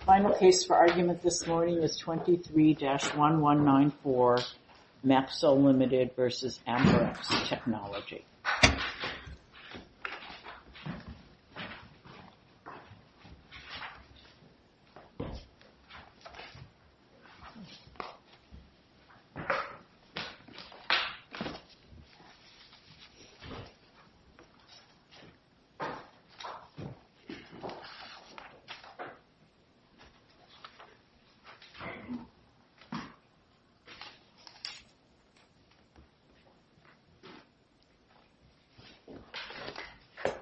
The final case for argument this morning is 23-1194 Mapsell, Ltd. v. Amperex Technology Ltd. v. Amperex Technology Ltd. v. Amperex Technology This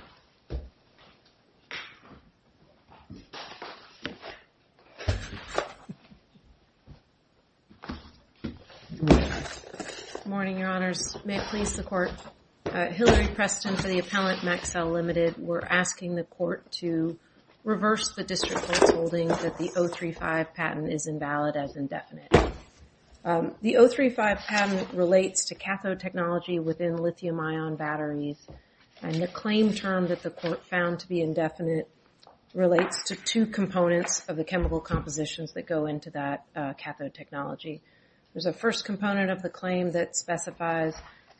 is Mary Preston for the appellant, Mapsell, Ltd. We're asking the court to reverse the district court's holding that the 035 patent is invalid as indefinite. The 035 patent relates to cathode technology within lithium-ion batteries, and the claim term that the court found to be indefinite relates to two components of the chemical compositions that go into that cathode technology. There's a first component of the claim that specifies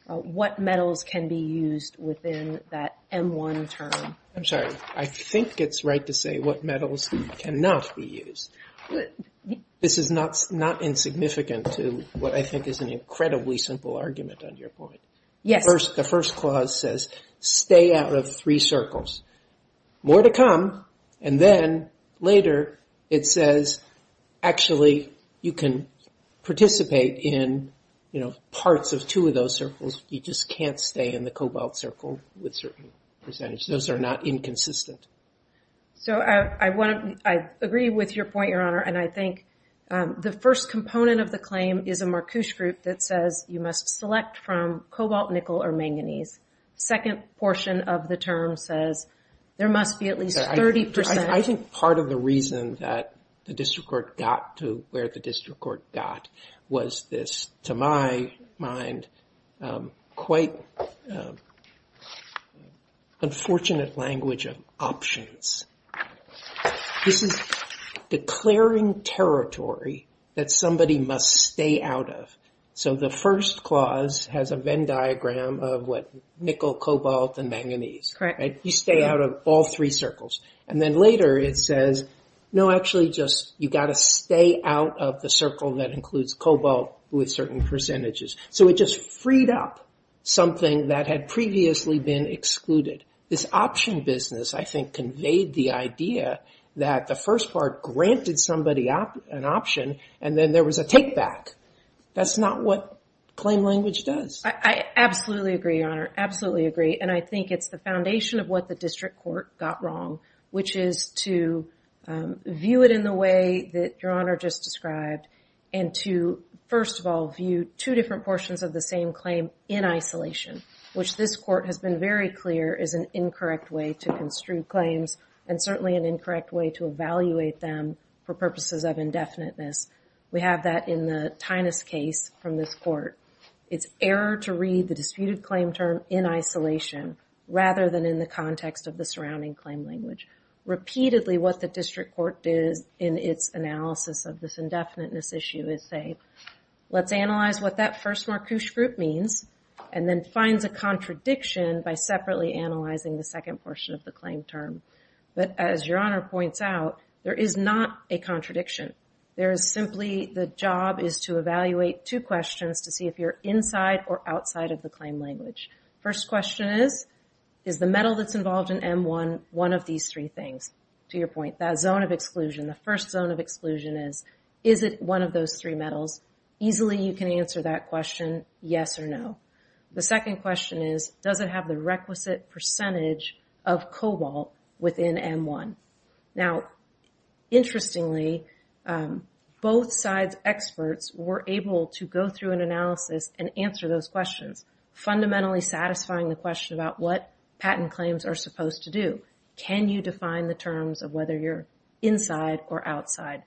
what metals can be used within that M1 term. I'm sorry. I think it's right to say what metals cannot be used. This is not insignificant to what I think is an incredibly simple argument on your point. Yes. The first clause says, stay out of three circles. More to come. And then, later, it says, actually, you can participate in parts of two of those circles. You just can't stay in the cobalt circle with certain percentages. Those are not inconsistent. I agree with your point, Your Honor. I think the first component of the claim is a Marcouche group that says you must select from cobalt, nickel, or manganese. The second portion of the term says there must be at least 30 percent. I think part of the reason that the district court got to where the district court got was this, to my mind, quite unfortunate language of options. This is declaring territory that somebody must stay out of. The first clause has a Venn diagram of nickel, cobalt, and manganese. Correct. You stay out of all three circles. Then, later, it says, no, actually, you've got to stay out of the circle that includes cobalt with certain percentages. It just freed up something that had previously been excluded. This option business, I think, conveyed the idea that the first part granted somebody an option, and then there was a take back. That's not what claim language does. I absolutely agree, Your Honor, absolutely agree. I think it's the foundation of what the district court got wrong, which is to view it in the way that Your Honor just described, and to, first of all, view two different portions of the same claim in isolation, which this court has been very clear is an incorrect way to construe claims, and certainly an incorrect way to evaluate them for purposes of indefiniteness. We have that in the Tinus case from this court. It's error to read the disputed claim term in isolation rather than in the context of the surrounding claim language. Repeatedly, what the district court does in its analysis of this indefiniteness issue is say, let's analyze what that first marquoise group means, and then finds a contradiction by separately analyzing the second portion of the claim term. But, as Your Honor points out, there is not a contradiction. There is simply the job is to evaluate two questions to see if you're inside or outside of the claim language. First question is, is the metal that's involved in M1 one of these three things? To your point, that zone of exclusion, the first zone of exclusion is, is it one of those three metals? Easily you can answer that question, yes or no. The second question is, does it have the requisite percentage of cobalt within M1? Now, interestingly, both sides' experts were able to go through an analysis and answer those questions, fundamentally satisfying the question about what patent claims are supposed to do. Can you define the terms of whether you're inside or outside?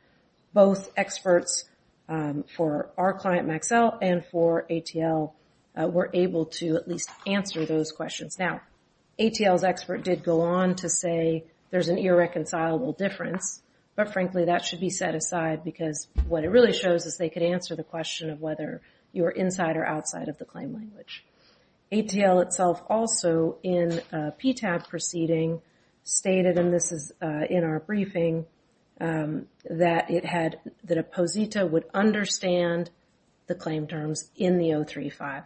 Both experts for our client Maxell and for ATL were able to at least answer those questions. Now, ATL's expert did go on to say there's an irreconcilable difference, but frankly that should be set aside because what it really shows is they could answer the question of whether you're inside or outside of the claim language. ATL itself also in a PTAB proceeding stated, and this is in our briefing, that it had, that a posita would understand the claim terms in the 035.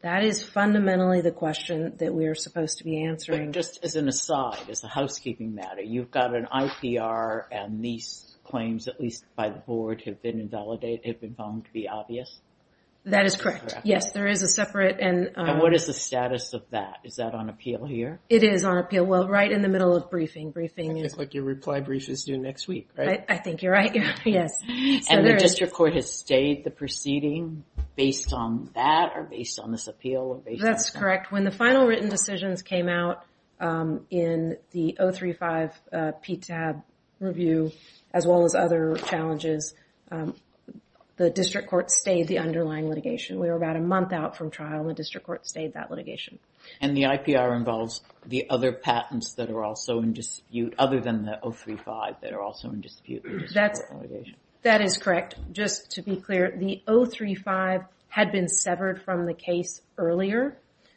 That is fundamentally the question that we are supposed to be answering. Just as an aside, as a housekeeping matter, you've got an IPR and these claims, at least by the board, have been invalidated, have been found to be obvious? That is correct. Yes, there is a separate and... And what is the status of that? Is that on appeal here? It is on appeal. Well, right in the middle of briefing. I think your reply brief is due next week, right? I think you're right. Yes. And the district court has stayed the proceeding based on that or based on this appeal? That's correct. When the final written decisions came out in the 035 PTAB review, as well as other challenges, the district court stayed the underlying litigation. We were about a month out from trial and the district court stayed that litigation. And the IPR involves the other patents that are also in dispute, other than the 035 that are also in dispute. That is correct. Just to be clear, the 035 had been severed from the case earlier.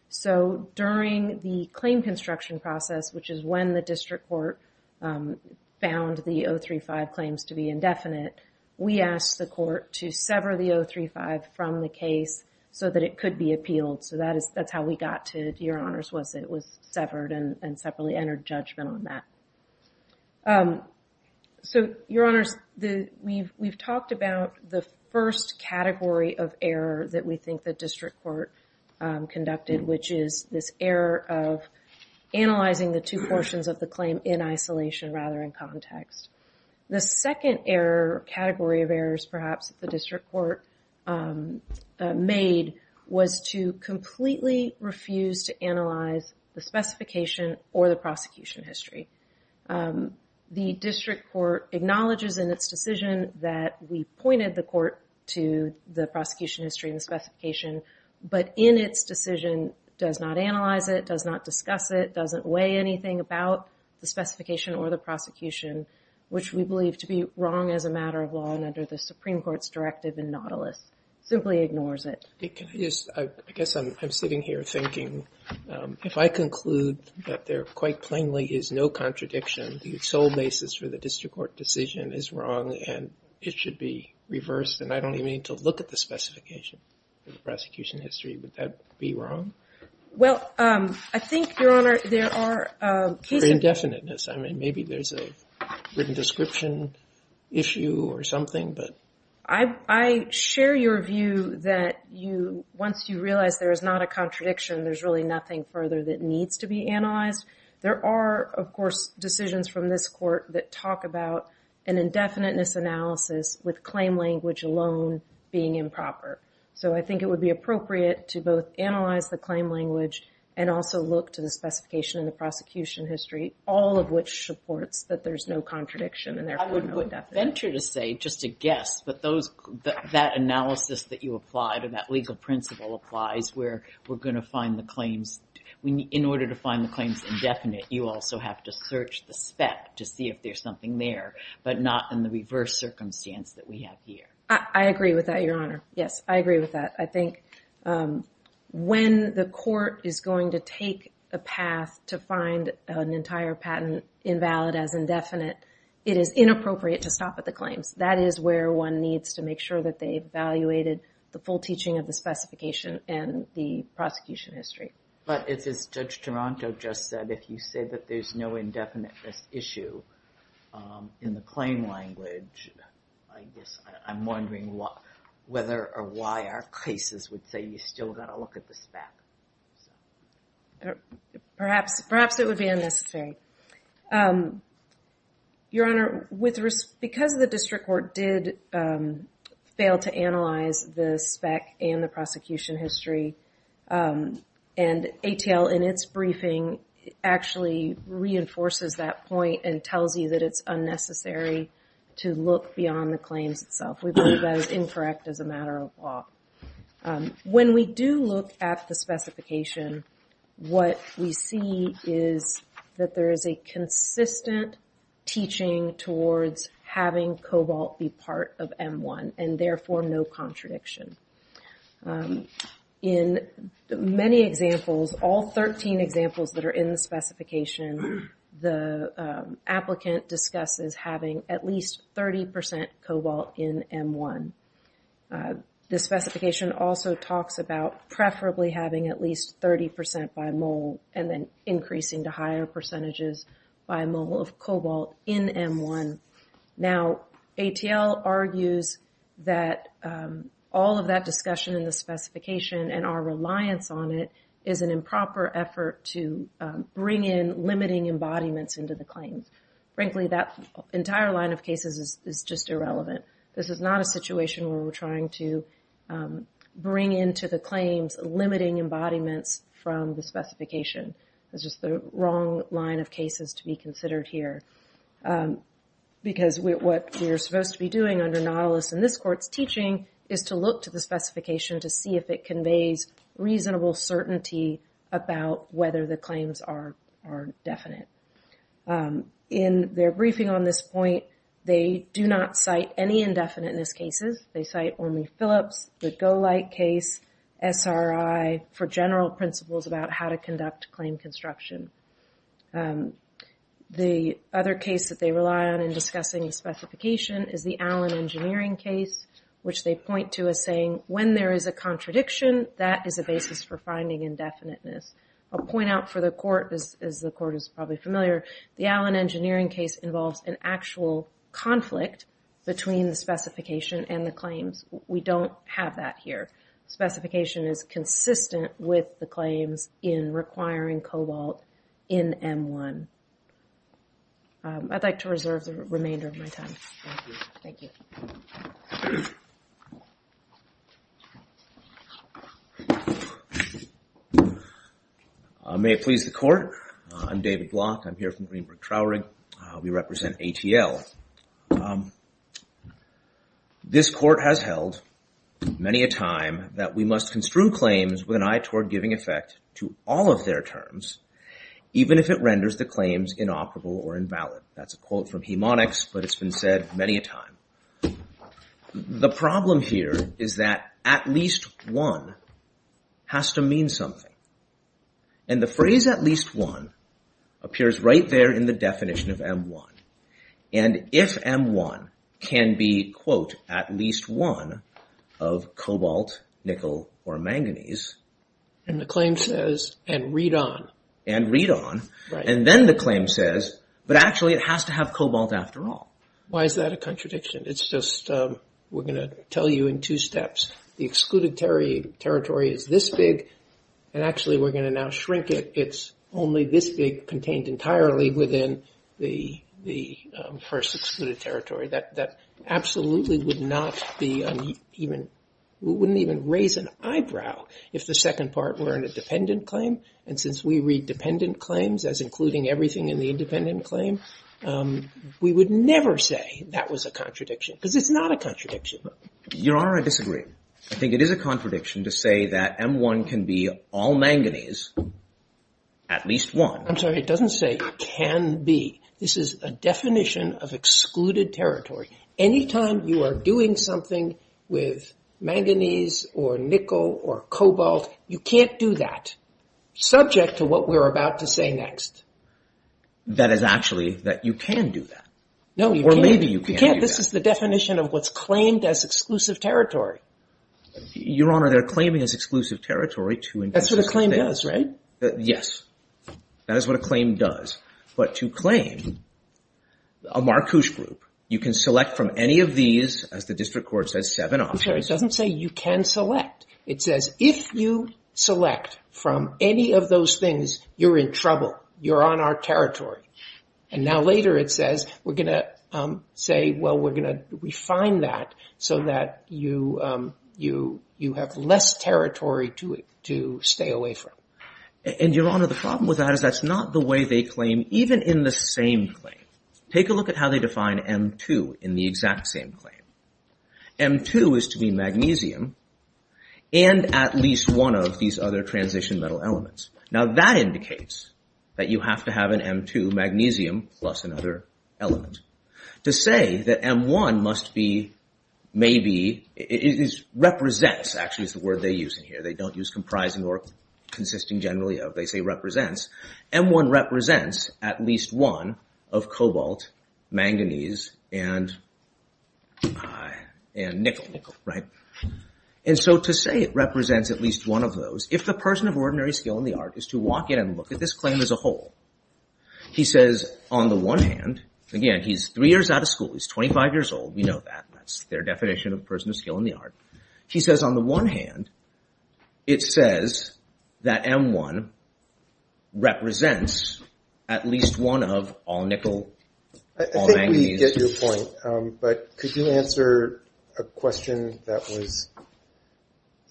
So during the claim construction process, which is when the district court found the 035 claims to be indefinite, we asked the court to sever the 035 from the case so that it could be appealed. So that's how we got to, to your honors, was it was severed and separately entered judgment on that. So, your honors, we've talked about the first category of error that we think the district court conducted, which is this error of analyzing the two portions of the claim in isolation rather than context. The second error, category of errors, perhaps, that the district court made was to completely refuse to analyze the specification or the prosecution history. The district court acknowledges in its decision that we pointed the court to the prosecution history and the specification, but in its decision does not analyze it, does not discuss it, doesn't weigh anything about the specification or the prosecution, which we believe to be wrong as a matter of law and under the Supreme Court's directive in Nautilus, simply ignores it. I guess I'm sitting here thinking, if I conclude that there quite plainly is no contradiction, the sole basis for the district court decision is wrong and it should be reversed and I don't even need to look at the specification or the prosecution history, would that be wrong? Well, I think, your honor, there are cases... I mean, maybe there's a written description issue or something, but... I share your view that once you realize there is not a contradiction, there's really nothing further that needs to be analyzed. There are, of course, decisions from this court that talk about an indefiniteness analysis with claim language alone being improper. So I think it would be appropriate to both analyze the claim language and also look to the specification and the prosecution history, all of which supports that there's no contradiction and therefore no definite. I would venture to say, just to guess, that that analysis that you applied or that legal principle applies where we're going to find the claims... In order to find the claims indefinite, you also have to search the spec to see if there's something there, but not in the reverse circumstance that we have here. I agree with that, your honor. Yes, I agree with that. I think when the court is going to take a path to find an entire patent invalid as indefinite, it is inappropriate to stop at the claims. That is where one needs to make sure that they've evaluated the full teaching of the specification and the prosecution history. But as Judge Toronto just said, if you say that there's no indefiniteness issue in the claim language, I'm wondering whether or why our cases would say you still got to look at the spec. Perhaps it would be unnecessary. Your honor, because the district court did fail to analyze the spec and the prosecution history, and ATL in its briefing actually reinforces that point and tells you that it's unnecessary to look beyond the claims itself. We believe that is incorrect as a matter of law. When we do look at the specification, what we see is that there is a consistent teaching towards having Cobalt be part of M1 and therefore no contradiction. In many examples, all 13 examples that are in the specification, the applicant discusses having at least 30% Cobalt in M1. The specification also talks about preferably having at least 30% by mole and then increasing to higher percentages by mole of Cobalt in M1. Now, ATL argues that all of that discussion in the specification and our reliance on it is an improper effort to bring in limiting embodiments into the claims. Frankly, that entire line of cases is just irrelevant. This is not a situation where we're trying to bring into the claims limiting embodiments from the specification. This is the wrong line of cases to be considered here because what we're supposed to be doing under Nautilus and this court's teaching is to look to the specification to see if it conveys reasonable certainty about whether the claims are definite. In their briefing on this point, they do not cite any indefiniteness cases. They cite only Phillips, the Golight case, SRI, for general principles about how to conduct claim construction. The other case that they rely on in discussing the specification is the Allen Engineering case, which they point to as saying, when there is a contradiction, that is a basis for finding indefiniteness. I'll point out for the court, as the court is probably familiar, the Allen Engineering case involves an actual conflict between the specification and the claims. We don't have that here. Specification is consistent with the claims in requiring Cobalt in M1. I'd like to reserve the remainder of my time. Thank you. May it please the court. I'm David Block. I'm here from Greenberg Traurig. We represent ATL. This court has held many a time that we must construe claims with an eye toward giving effect to all of their terms, even if it renders the claims inoperable or invalid. That's a quote from Hemonics, but it's been said many a time. The problem here is that at least one has to mean something. And the phrase, at least one, appears right there in the definition of M1. And if M1 can be, quote, at least one of Cobalt, Nickel, or Manganese... And the claim says, and read on. And read on. And then the claim says, but actually it has to have Cobalt after all. Why is that a contradiction? It's just we're going to tell you in two steps. The excluded territory is this big, and actually we're going to now shrink it. It's only this big contained entirely within the first excluded territory. That absolutely would not be even... We wouldn't even raise an eyebrow if the second part were in a dependent claim. And since we read dependent claims as including everything in the independent claim, we would never say that was a contradiction. Because it's not a contradiction. Your Honor, I disagree. I think it is a contradiction to say that M1 can be all Manganese, at least one. I'm sorry, it doesn't say can be. This is a definition of excluded territory. Anytime you are doing something with Manganese or Nickel or Cobalt, you can't do that, subject to what we're about to say next. That is actually that you can do that. No, you can't. Or maybe you can do that. You can't. This is the definition of what's claimed as exclusive territory. Your Honor, they're claiming as exclusive territory to... That's what a claim does, right? Yes. That is what a claim does. But to claim a Marcouche group, you can select from any of these, as the District Court says, seven options. I'm sorry, it doesn't say you can select. It says if you select from any of those things, you're in trouble. You're on our territory. And now later it says we're going to say, well, we're going to refine that so that you have less territory to stay away from. And, Your Honor, the problem with that is that's not the way they claim, even in the same claim. Take a look at how they define M2 in the exact same claim. M2 is to be Magnesium and at least one of these other transition metal elements. Now that indicates that you have to have an M2 Magnesium plus another element. To say that M1 must be, maybe, represents, actually is the word they use in here. They don't use comprising or consisting generally of. They say represents. M1 represents at least one of Cobalt, Manganese, and Nickel, right? And so to say it represents at least one of those, if the person of ordinary skill in the art is to walk in and look at this claim as a whole, he says on the one hand, again, he's three years out of school. He's 25 years old. We know that. That's their definition of a person of skill in the art. He says on the one hand, it says that M1 represents at least one of all Nickel, all Manganese. I think we get your point. But could you answer a question that was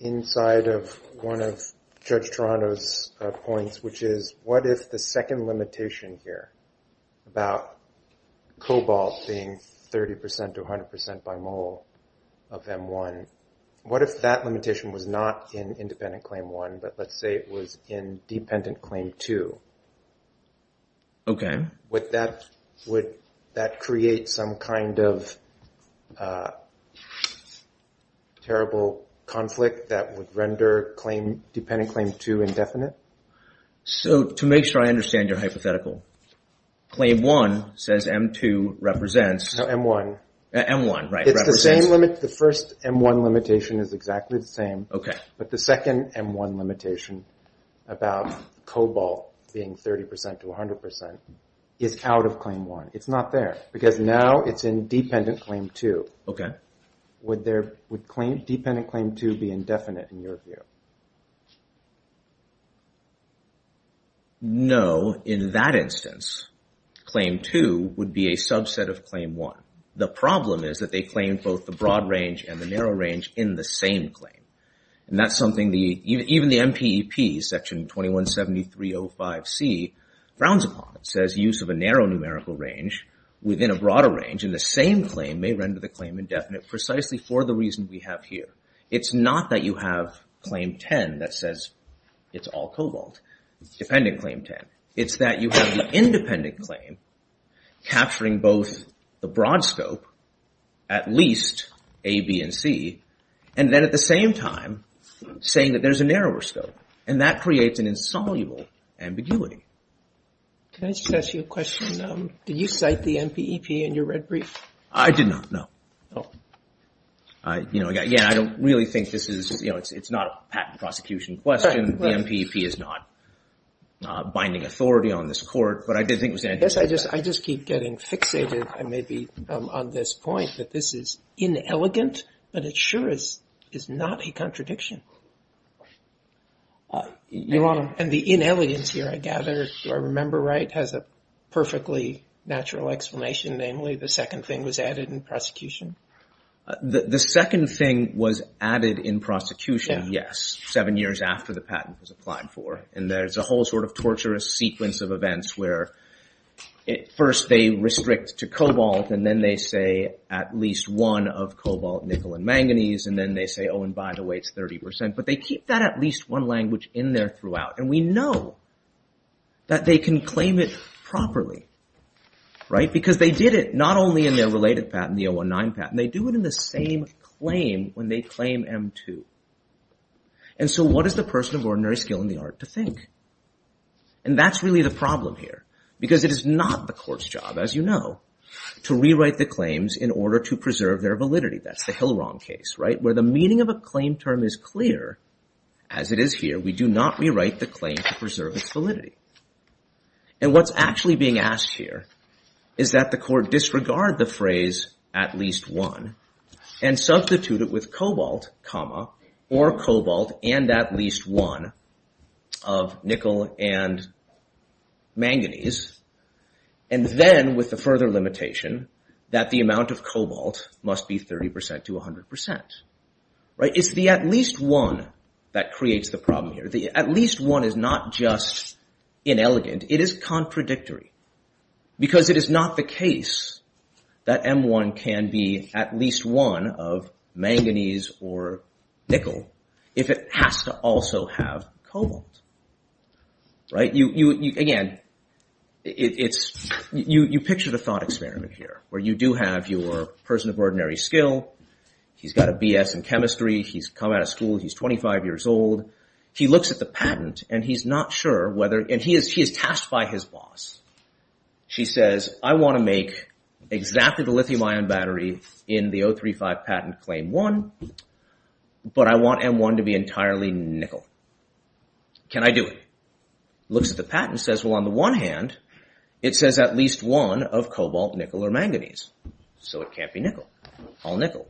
inside of one of Judge Toronto's points, which is what if the second limitation here about Cobalt being 30% to 100% by mole of M1, what if that limitation was not in independent claim one, but let's say it was in dependent claim two? Okay. Would that create some kind of terrible conflict that would render dependent claim two indefinite? So to make sure I understand your hypothetical, claim one says M2 represents. No, M1. M1, right. It's the same limit. The first M1 limitation is exactly the same. Okay. But the second M1 limitation about Cobalt being 30% to 100% is out of claim one. It's not there because now it's in dependent claim two. Okay. Would dependent claim two be indefinite in your view? No. In that instance, claim two would be a subset of claim one. The problem is that they claim both the broad range and the narrow range in the same claim. And that's something even the MPEP, section 2173.05C, grounds upon. It says use of a narrow numerical range within a broader range in the same claim may render the claim indefinite precisely for the reason we have here. It's not that you have claim 10 that says it's all Cobalt. It's dependent claim 10. It's that you have the independent claim capturing both the broad scope, at least A, B, and C, and then at the same time saying that there's a narrower scope. And that creates an insoluble ambiguity. Can I just ask you a question? Did you cite the MPEP in your red brief? I did not, no. Oh. You know, again, I don't really think this is, you know, it's not a patent prosecution question. The MPEP is not binding authority on this court. Yes, I just keep getting fixated maybe on this point that this is inelegant, but it sure is not a contradiction. Your Honor. And the inelegance here, I gather, if I remember right, has a perfectly natural explanation, namely the second thing was added in prosecution. The second thing was added in prosecution, yes, seven years after the patent was applied for. And there's a whole sort of torturous sequence of events where first they restrict to Cobalt and then they say at least one of Cobalt, Nickel, and Manganese, and then they say, oh, and by the way, it's 30%. But they keep that at least one language in there throughout. And we know that they can claim it properly, right, because they did it not only in their related patent, the 019 patent. They do it in the same claim when they claim M2. And so what is the person of ordinary skill in the art to think? And that's really the problem here because it is not the court's job, as you know, to rewrite the claims in order to preserve their validity. That's the Hillrong case, right, where the meaning of a claim term is clear, as it is here. We do not rewrite the claim to preserve its validity. And what's actually being asked here is that the court disregard the phrase at least one and substitute it with Cobalt, comma, or Cobalt and at least one of Nickel and Manganese. And then with the further limitation that the amount of Cobalt must be 30% to 100%, right? It's the at least one that creates the problem here. The at least one is not just inelegant. It is contradictory because it is not the case that M1 can be at least one of Manganese or Nickel if it has to also have Cobalt, right? Again, you picture the thought experiment here where you do have your person of ordinary skill. He's got a BS in chemistry. He's come out of school. He's 25 years old. He looks at the patent, and he's not sure whether – and he is tasked by his boss. She says, I want to make exactly the lithium ion battery in the 035 patent claim one, but I want M1 to be entirely Nickel. Can I do it? Looks at the patent and says, well, on the one hand, it says at least one of Cobalt, Nickel, or Manganese. So it can't be Nickel. All Nickel.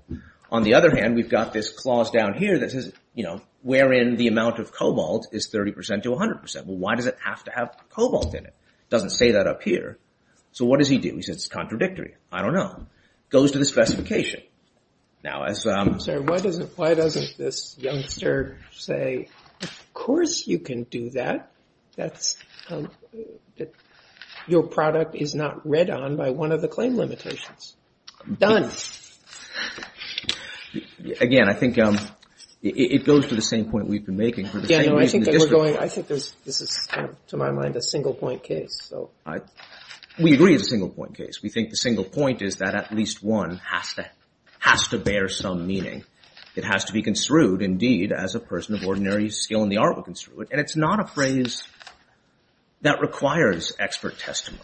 On the other hand, we've got this clause down here that says, you know, wherein the amount of Cobalt is 30% to 100%. Well, why does it have to have Cobalt in it? It doesn't say that up here. So what does he do? He says it's contradictory. I don't know. Goes to the specification. Why doesn't this youngster say, of course you can do that. Your product is not read on by one of the claim limitations. Done. Again, I think it goes to the same point we've been making. I think this is, to my mind, a single point case. We agree it's a single point case. We think the single point is that at least one has to bear some meaning. It has to be construed, indeed, as a person of ordinary skill in the art of construing. And it's not a phrase that requires expert testimony.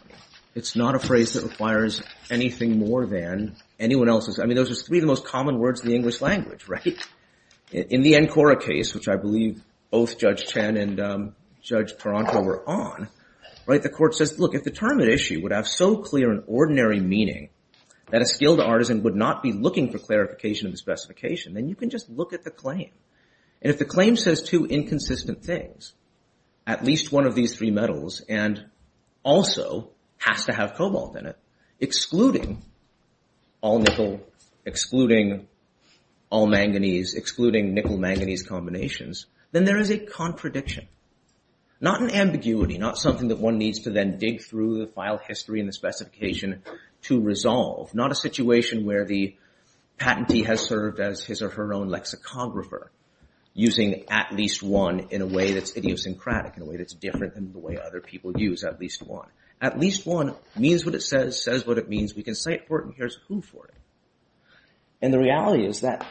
It's not a phrase that requires anything more than anyone else's. I mean, those are three of the most common words in the English language, right? In the Encora case, which I believe both Judge Chen and Judge Taranto were on, right, the court says, look, if the term at issue would have so clear an ordinary meaning that a skilled artisan would not be looking for clarification in the specification, then you can just look at the claim. And if the claim says two inconsistent things, at least one of these three metals and also has to have cobalt in it, excluding all nickel, excluding all manganese, excluding nickel-manganese combinations, then there is a contradiction. Not an ambiguity, not something that one needs to then dig through the file history and the specification to resolve. Not a situation where the patentee has served as his or her own lexicographer using at least one in a way that's idiosyncratic, in a way that's different than the way other people use at least one. At least one means what it says, says what it means. We can cite Fortin. Here's who for it. And the reality is that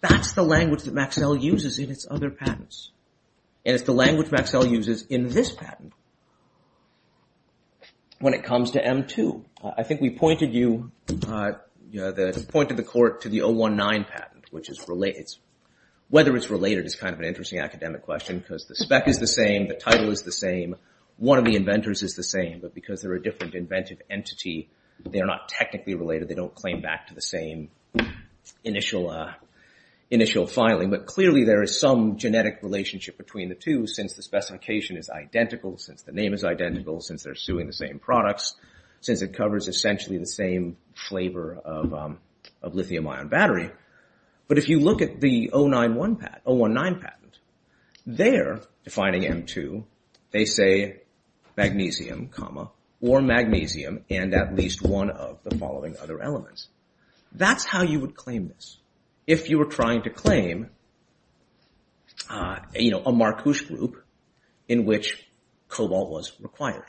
that's the language that Maxell uses in its other patents. And it's the language Maxell uses in this patent when it comes to M2. I think we pointed you, pointed the court to the 019 patent, which is whether it's related is kind of an interesting academic question because the spec is the same, the title is the same, one of the inventors is the same, but because they're a different inventive entity, they're not technically related, they don't claim back to the same initial filing. But clearly there is some genetic relationship between the two since the specification is identical, since the name is identical, since they're suing the same products, since it covers essentially the same flavor of lithium ion battery. But if you look at the 019 patent, they're defining M2, they say magnesium, or magnesium, and at least one of the following other elements. That's how you would claim this. If you were trying to claim, you know, a Marcouche group in which cobalt was required.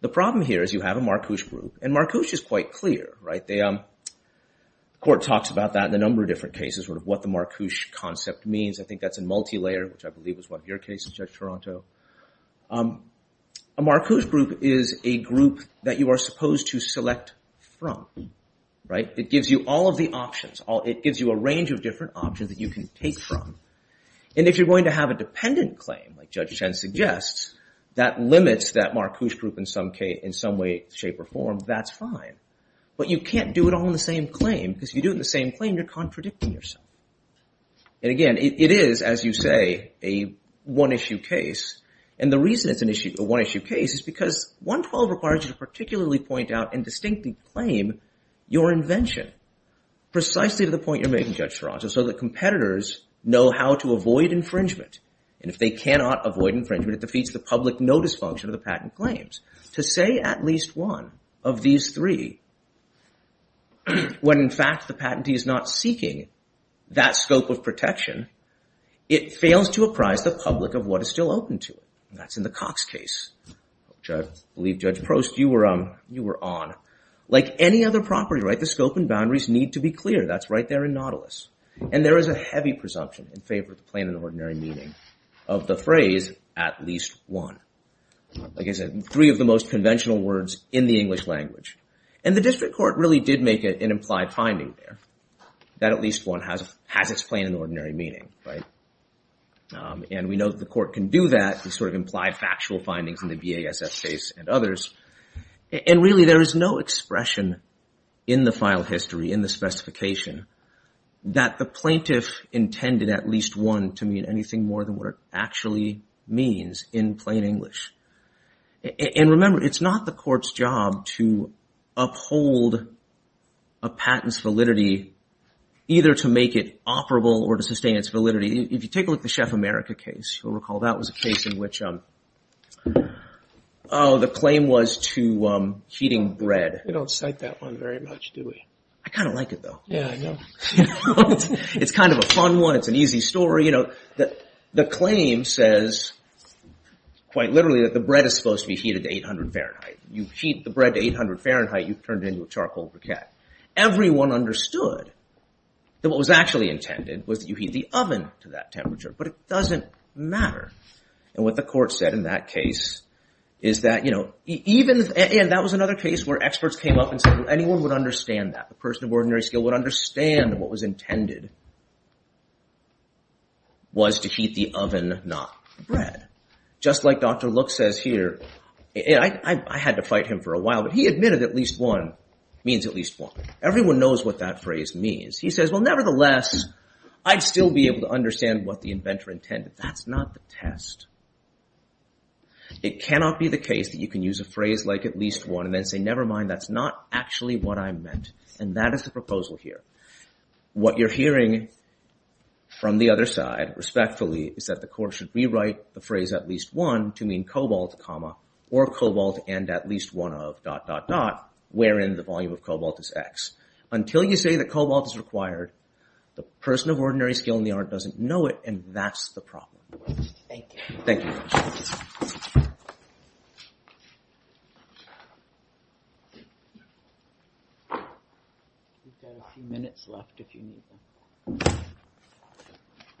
The problem here is you have a Marcouche group, and Marcouche is quite clear, right? The court talks about that in a number of different cases, sort of what the Marcouche concept means. I think that's a multi-layer, which I believe was one of your cases, Judge Toronto. A Marcouche group is a group that you are supposed to select from, right? It gives you all of the options. It gives you a range of different options that you can take from. And if you're going to have a dependent claim, like Judge Chen suggests, that limits that Marcouche group in some way, shape, or form, that's fine. But you can't do it all in the same claim, because if you do it in the same claim, you're contradicting yourself. And again, it is, as you say, a one-issue case. And the reason it's a one-issue case is because 112 requires you to particularly point out and distinctly claim your invention, precisely to the point you're making, Judge Toronto, so that competitors know how to avoid infringement. And if they cannot avoid infringement, it defeats the public notice function of the patent claims. To say at least one of these three, when in fact the patentee is not seeking that scope of protection, it fails to apprise the public of what is still open to it. That's in the Cox case, which I believe, Judge Prost, you were on. Like any other property, right, the scope and boundaries need to be clear. That's right there in Nautilus. And there is a heavy presumption in favor of the plain and ordinary meaning of the phrase, at least one. Like I said, three of the most conventional words in the English language. And the district court really did make an implied finding there, that at least one has its plain and ordinary meaning, right? And we know that the court can do that to sort of imply factual findings in the BASF case and others. And really there is no expression in the file history, in the specification, that the plaintiff intended at least one to mean anything more than what it actually means in plain English. And remember, it's not the court's job to uphold a patent's validity either to make it operable or to sustain its validity. If you take a look at the Chef America case, you'll recall that was a case in which the claim was to heating bread. We don't cite that one very much, do we? I kind of like it, though. Yeah, I know. It's kind of a fun one. It's an easy story. The claim says, quite literally, that the bread is supposed to be heated to 800 Fahrenheit. You heat the bread to 800 Fahrenheit, you've turned it into a charcoal briquette. Everyone understood that what was actually intended was that you heat the oven to that temperature. But it doesn't matter. And what the court said in that case is that, you know, and that was another case where experts came up and said anyone would understand that. A person of ordinary skill would understand what was intended was to heat the oven, not bread. Just like Dr. Look says here. I had to fight him for a while, but he admitted at least one means at least one. Everyone knows what that phrase means. He says, well, nevertheless, I'd still be able to understand what the inventor intended. That's not the test. It cannot be the case that you can use a phrase like at least one and then say, never mind, that's not actually what I meant. And that is the proposal here. What you're hearing from the other side, respectfully, is that the court should rewrite the phrase at least one to mean cobalt, or cobalt and at least one of dot, dot, dot, wherein the volume of cobalt is x. Until you say that cobalt is required, the person of ordinary skill in the art doesn't know it, and that's the problem. Thank you. We've got a few minutes left if you need them.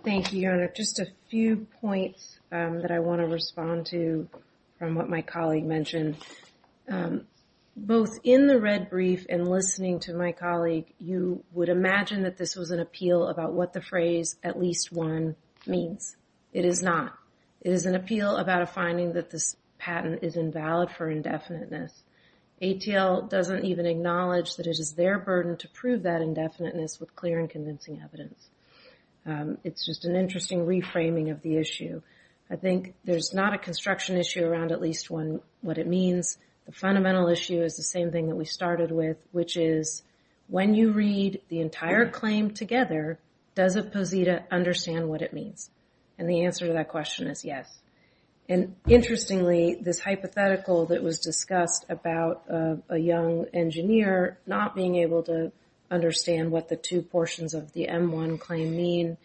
Thank you, Your Honor. Just a few points that I want to respond to from what my colleague mentioned. Both in the red brief and listening to my colleague, you would imagine that this was an appeal about what the phrase at least one means. It is not. It is an appeal about a finding that this patent is invalid for indefiniteness. ATL doesn't even acknowledge that it is their burden to prove that indefiniteness with clear and convincing evidence. It's just an interesting reframing of the issue. I think there's not a construction issue around at least one, what it means. The fundamental issue is the same thing that we started with, which is when you read the entire claim together, does a posita understand what it means? And the answer to that question is yes. Interestingly, this hypothetical that was discussed about a young engineer not being able to understand what the two portions of the M1 claim mean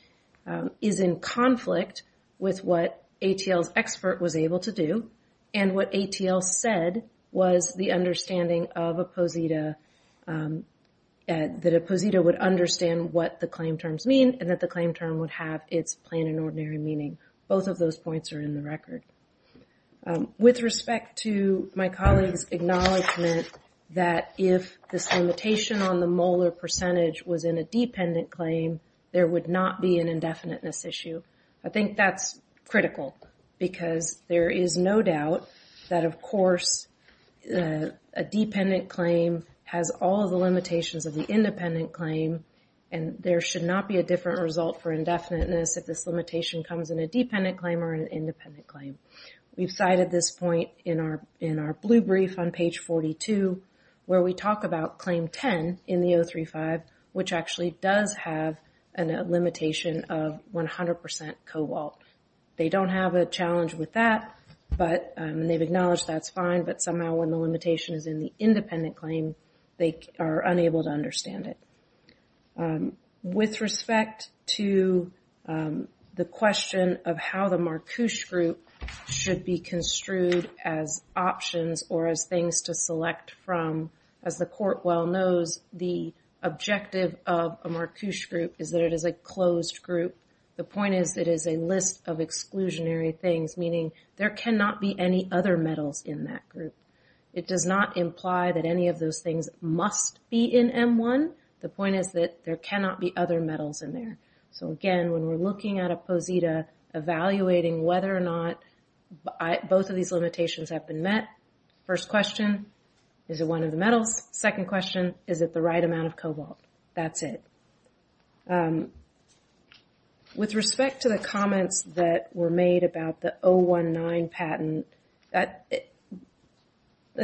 is in conflict with what ATL's expert was able to do, and what ATL said was the understanding of a posita, that a posita would understand what the claim terms mean and that the claim term would have its plain and ordinary meaning. Both of those points are in the record. With respect to my colleague's acknowledgment that if this limitation on the molar percentage was in a dependent claim, there would not be an indefiniteness issue, I think that's critical because there is no doubt that, of course, a dependent claim has all of the limitations of the independent claim and there should not be a different result for indefiniteness if this limitation comes in a dependent claim or an independent claim. We've cited this point in our blue brief on page 42, where we talk about claim 10 in the 035, which actually does have a limitation of 100% cobalt. They don't have a challenge with that, and they've acknowledged that's fine, but somehow when the limitation is in the independent claim, they are unable to understand it. With respect to the question of how the Marcouche group should be construed as options or as things to select from, as the court well knows, the objective of a Marcouche group is that it is a closed group. The point is it is a list of exclusionary things, meaning there cannot be any other metals in that group. It does not imply that any of those things must be in M1. The point is that there cannot be other metals in there. So again, when we're looking at a posita, evaluating whether or not both of these limitations have been met, first question, is it one of the metals? Second question, is it the right amount of cobalt? That's it. With respect to the comments that were made about the 019 patent, I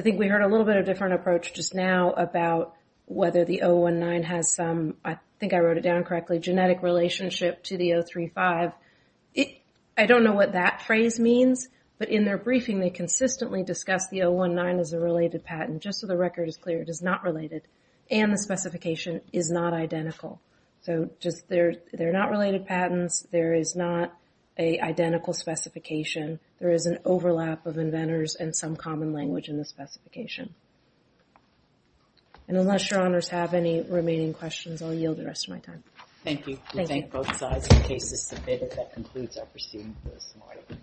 think we heard a little bit of a different approach just now about whether the 019 has some, I think I wrote it down correctly, genetic relationship to the 035. I don't know what that phrase means, but in their briefing, they consistently discussed the 019 as a related patent. Just so the record is clear, it is not related, and the specification is not identical. They're not related patents. There is not an identical specification. There is an overlap of inventors and some common language in the specification. And unless Your Honors have any remaining questions, I'll yield the rest of my time. Thank you. We thank both sides. The case is submitted. That concludes our proceedings this morning.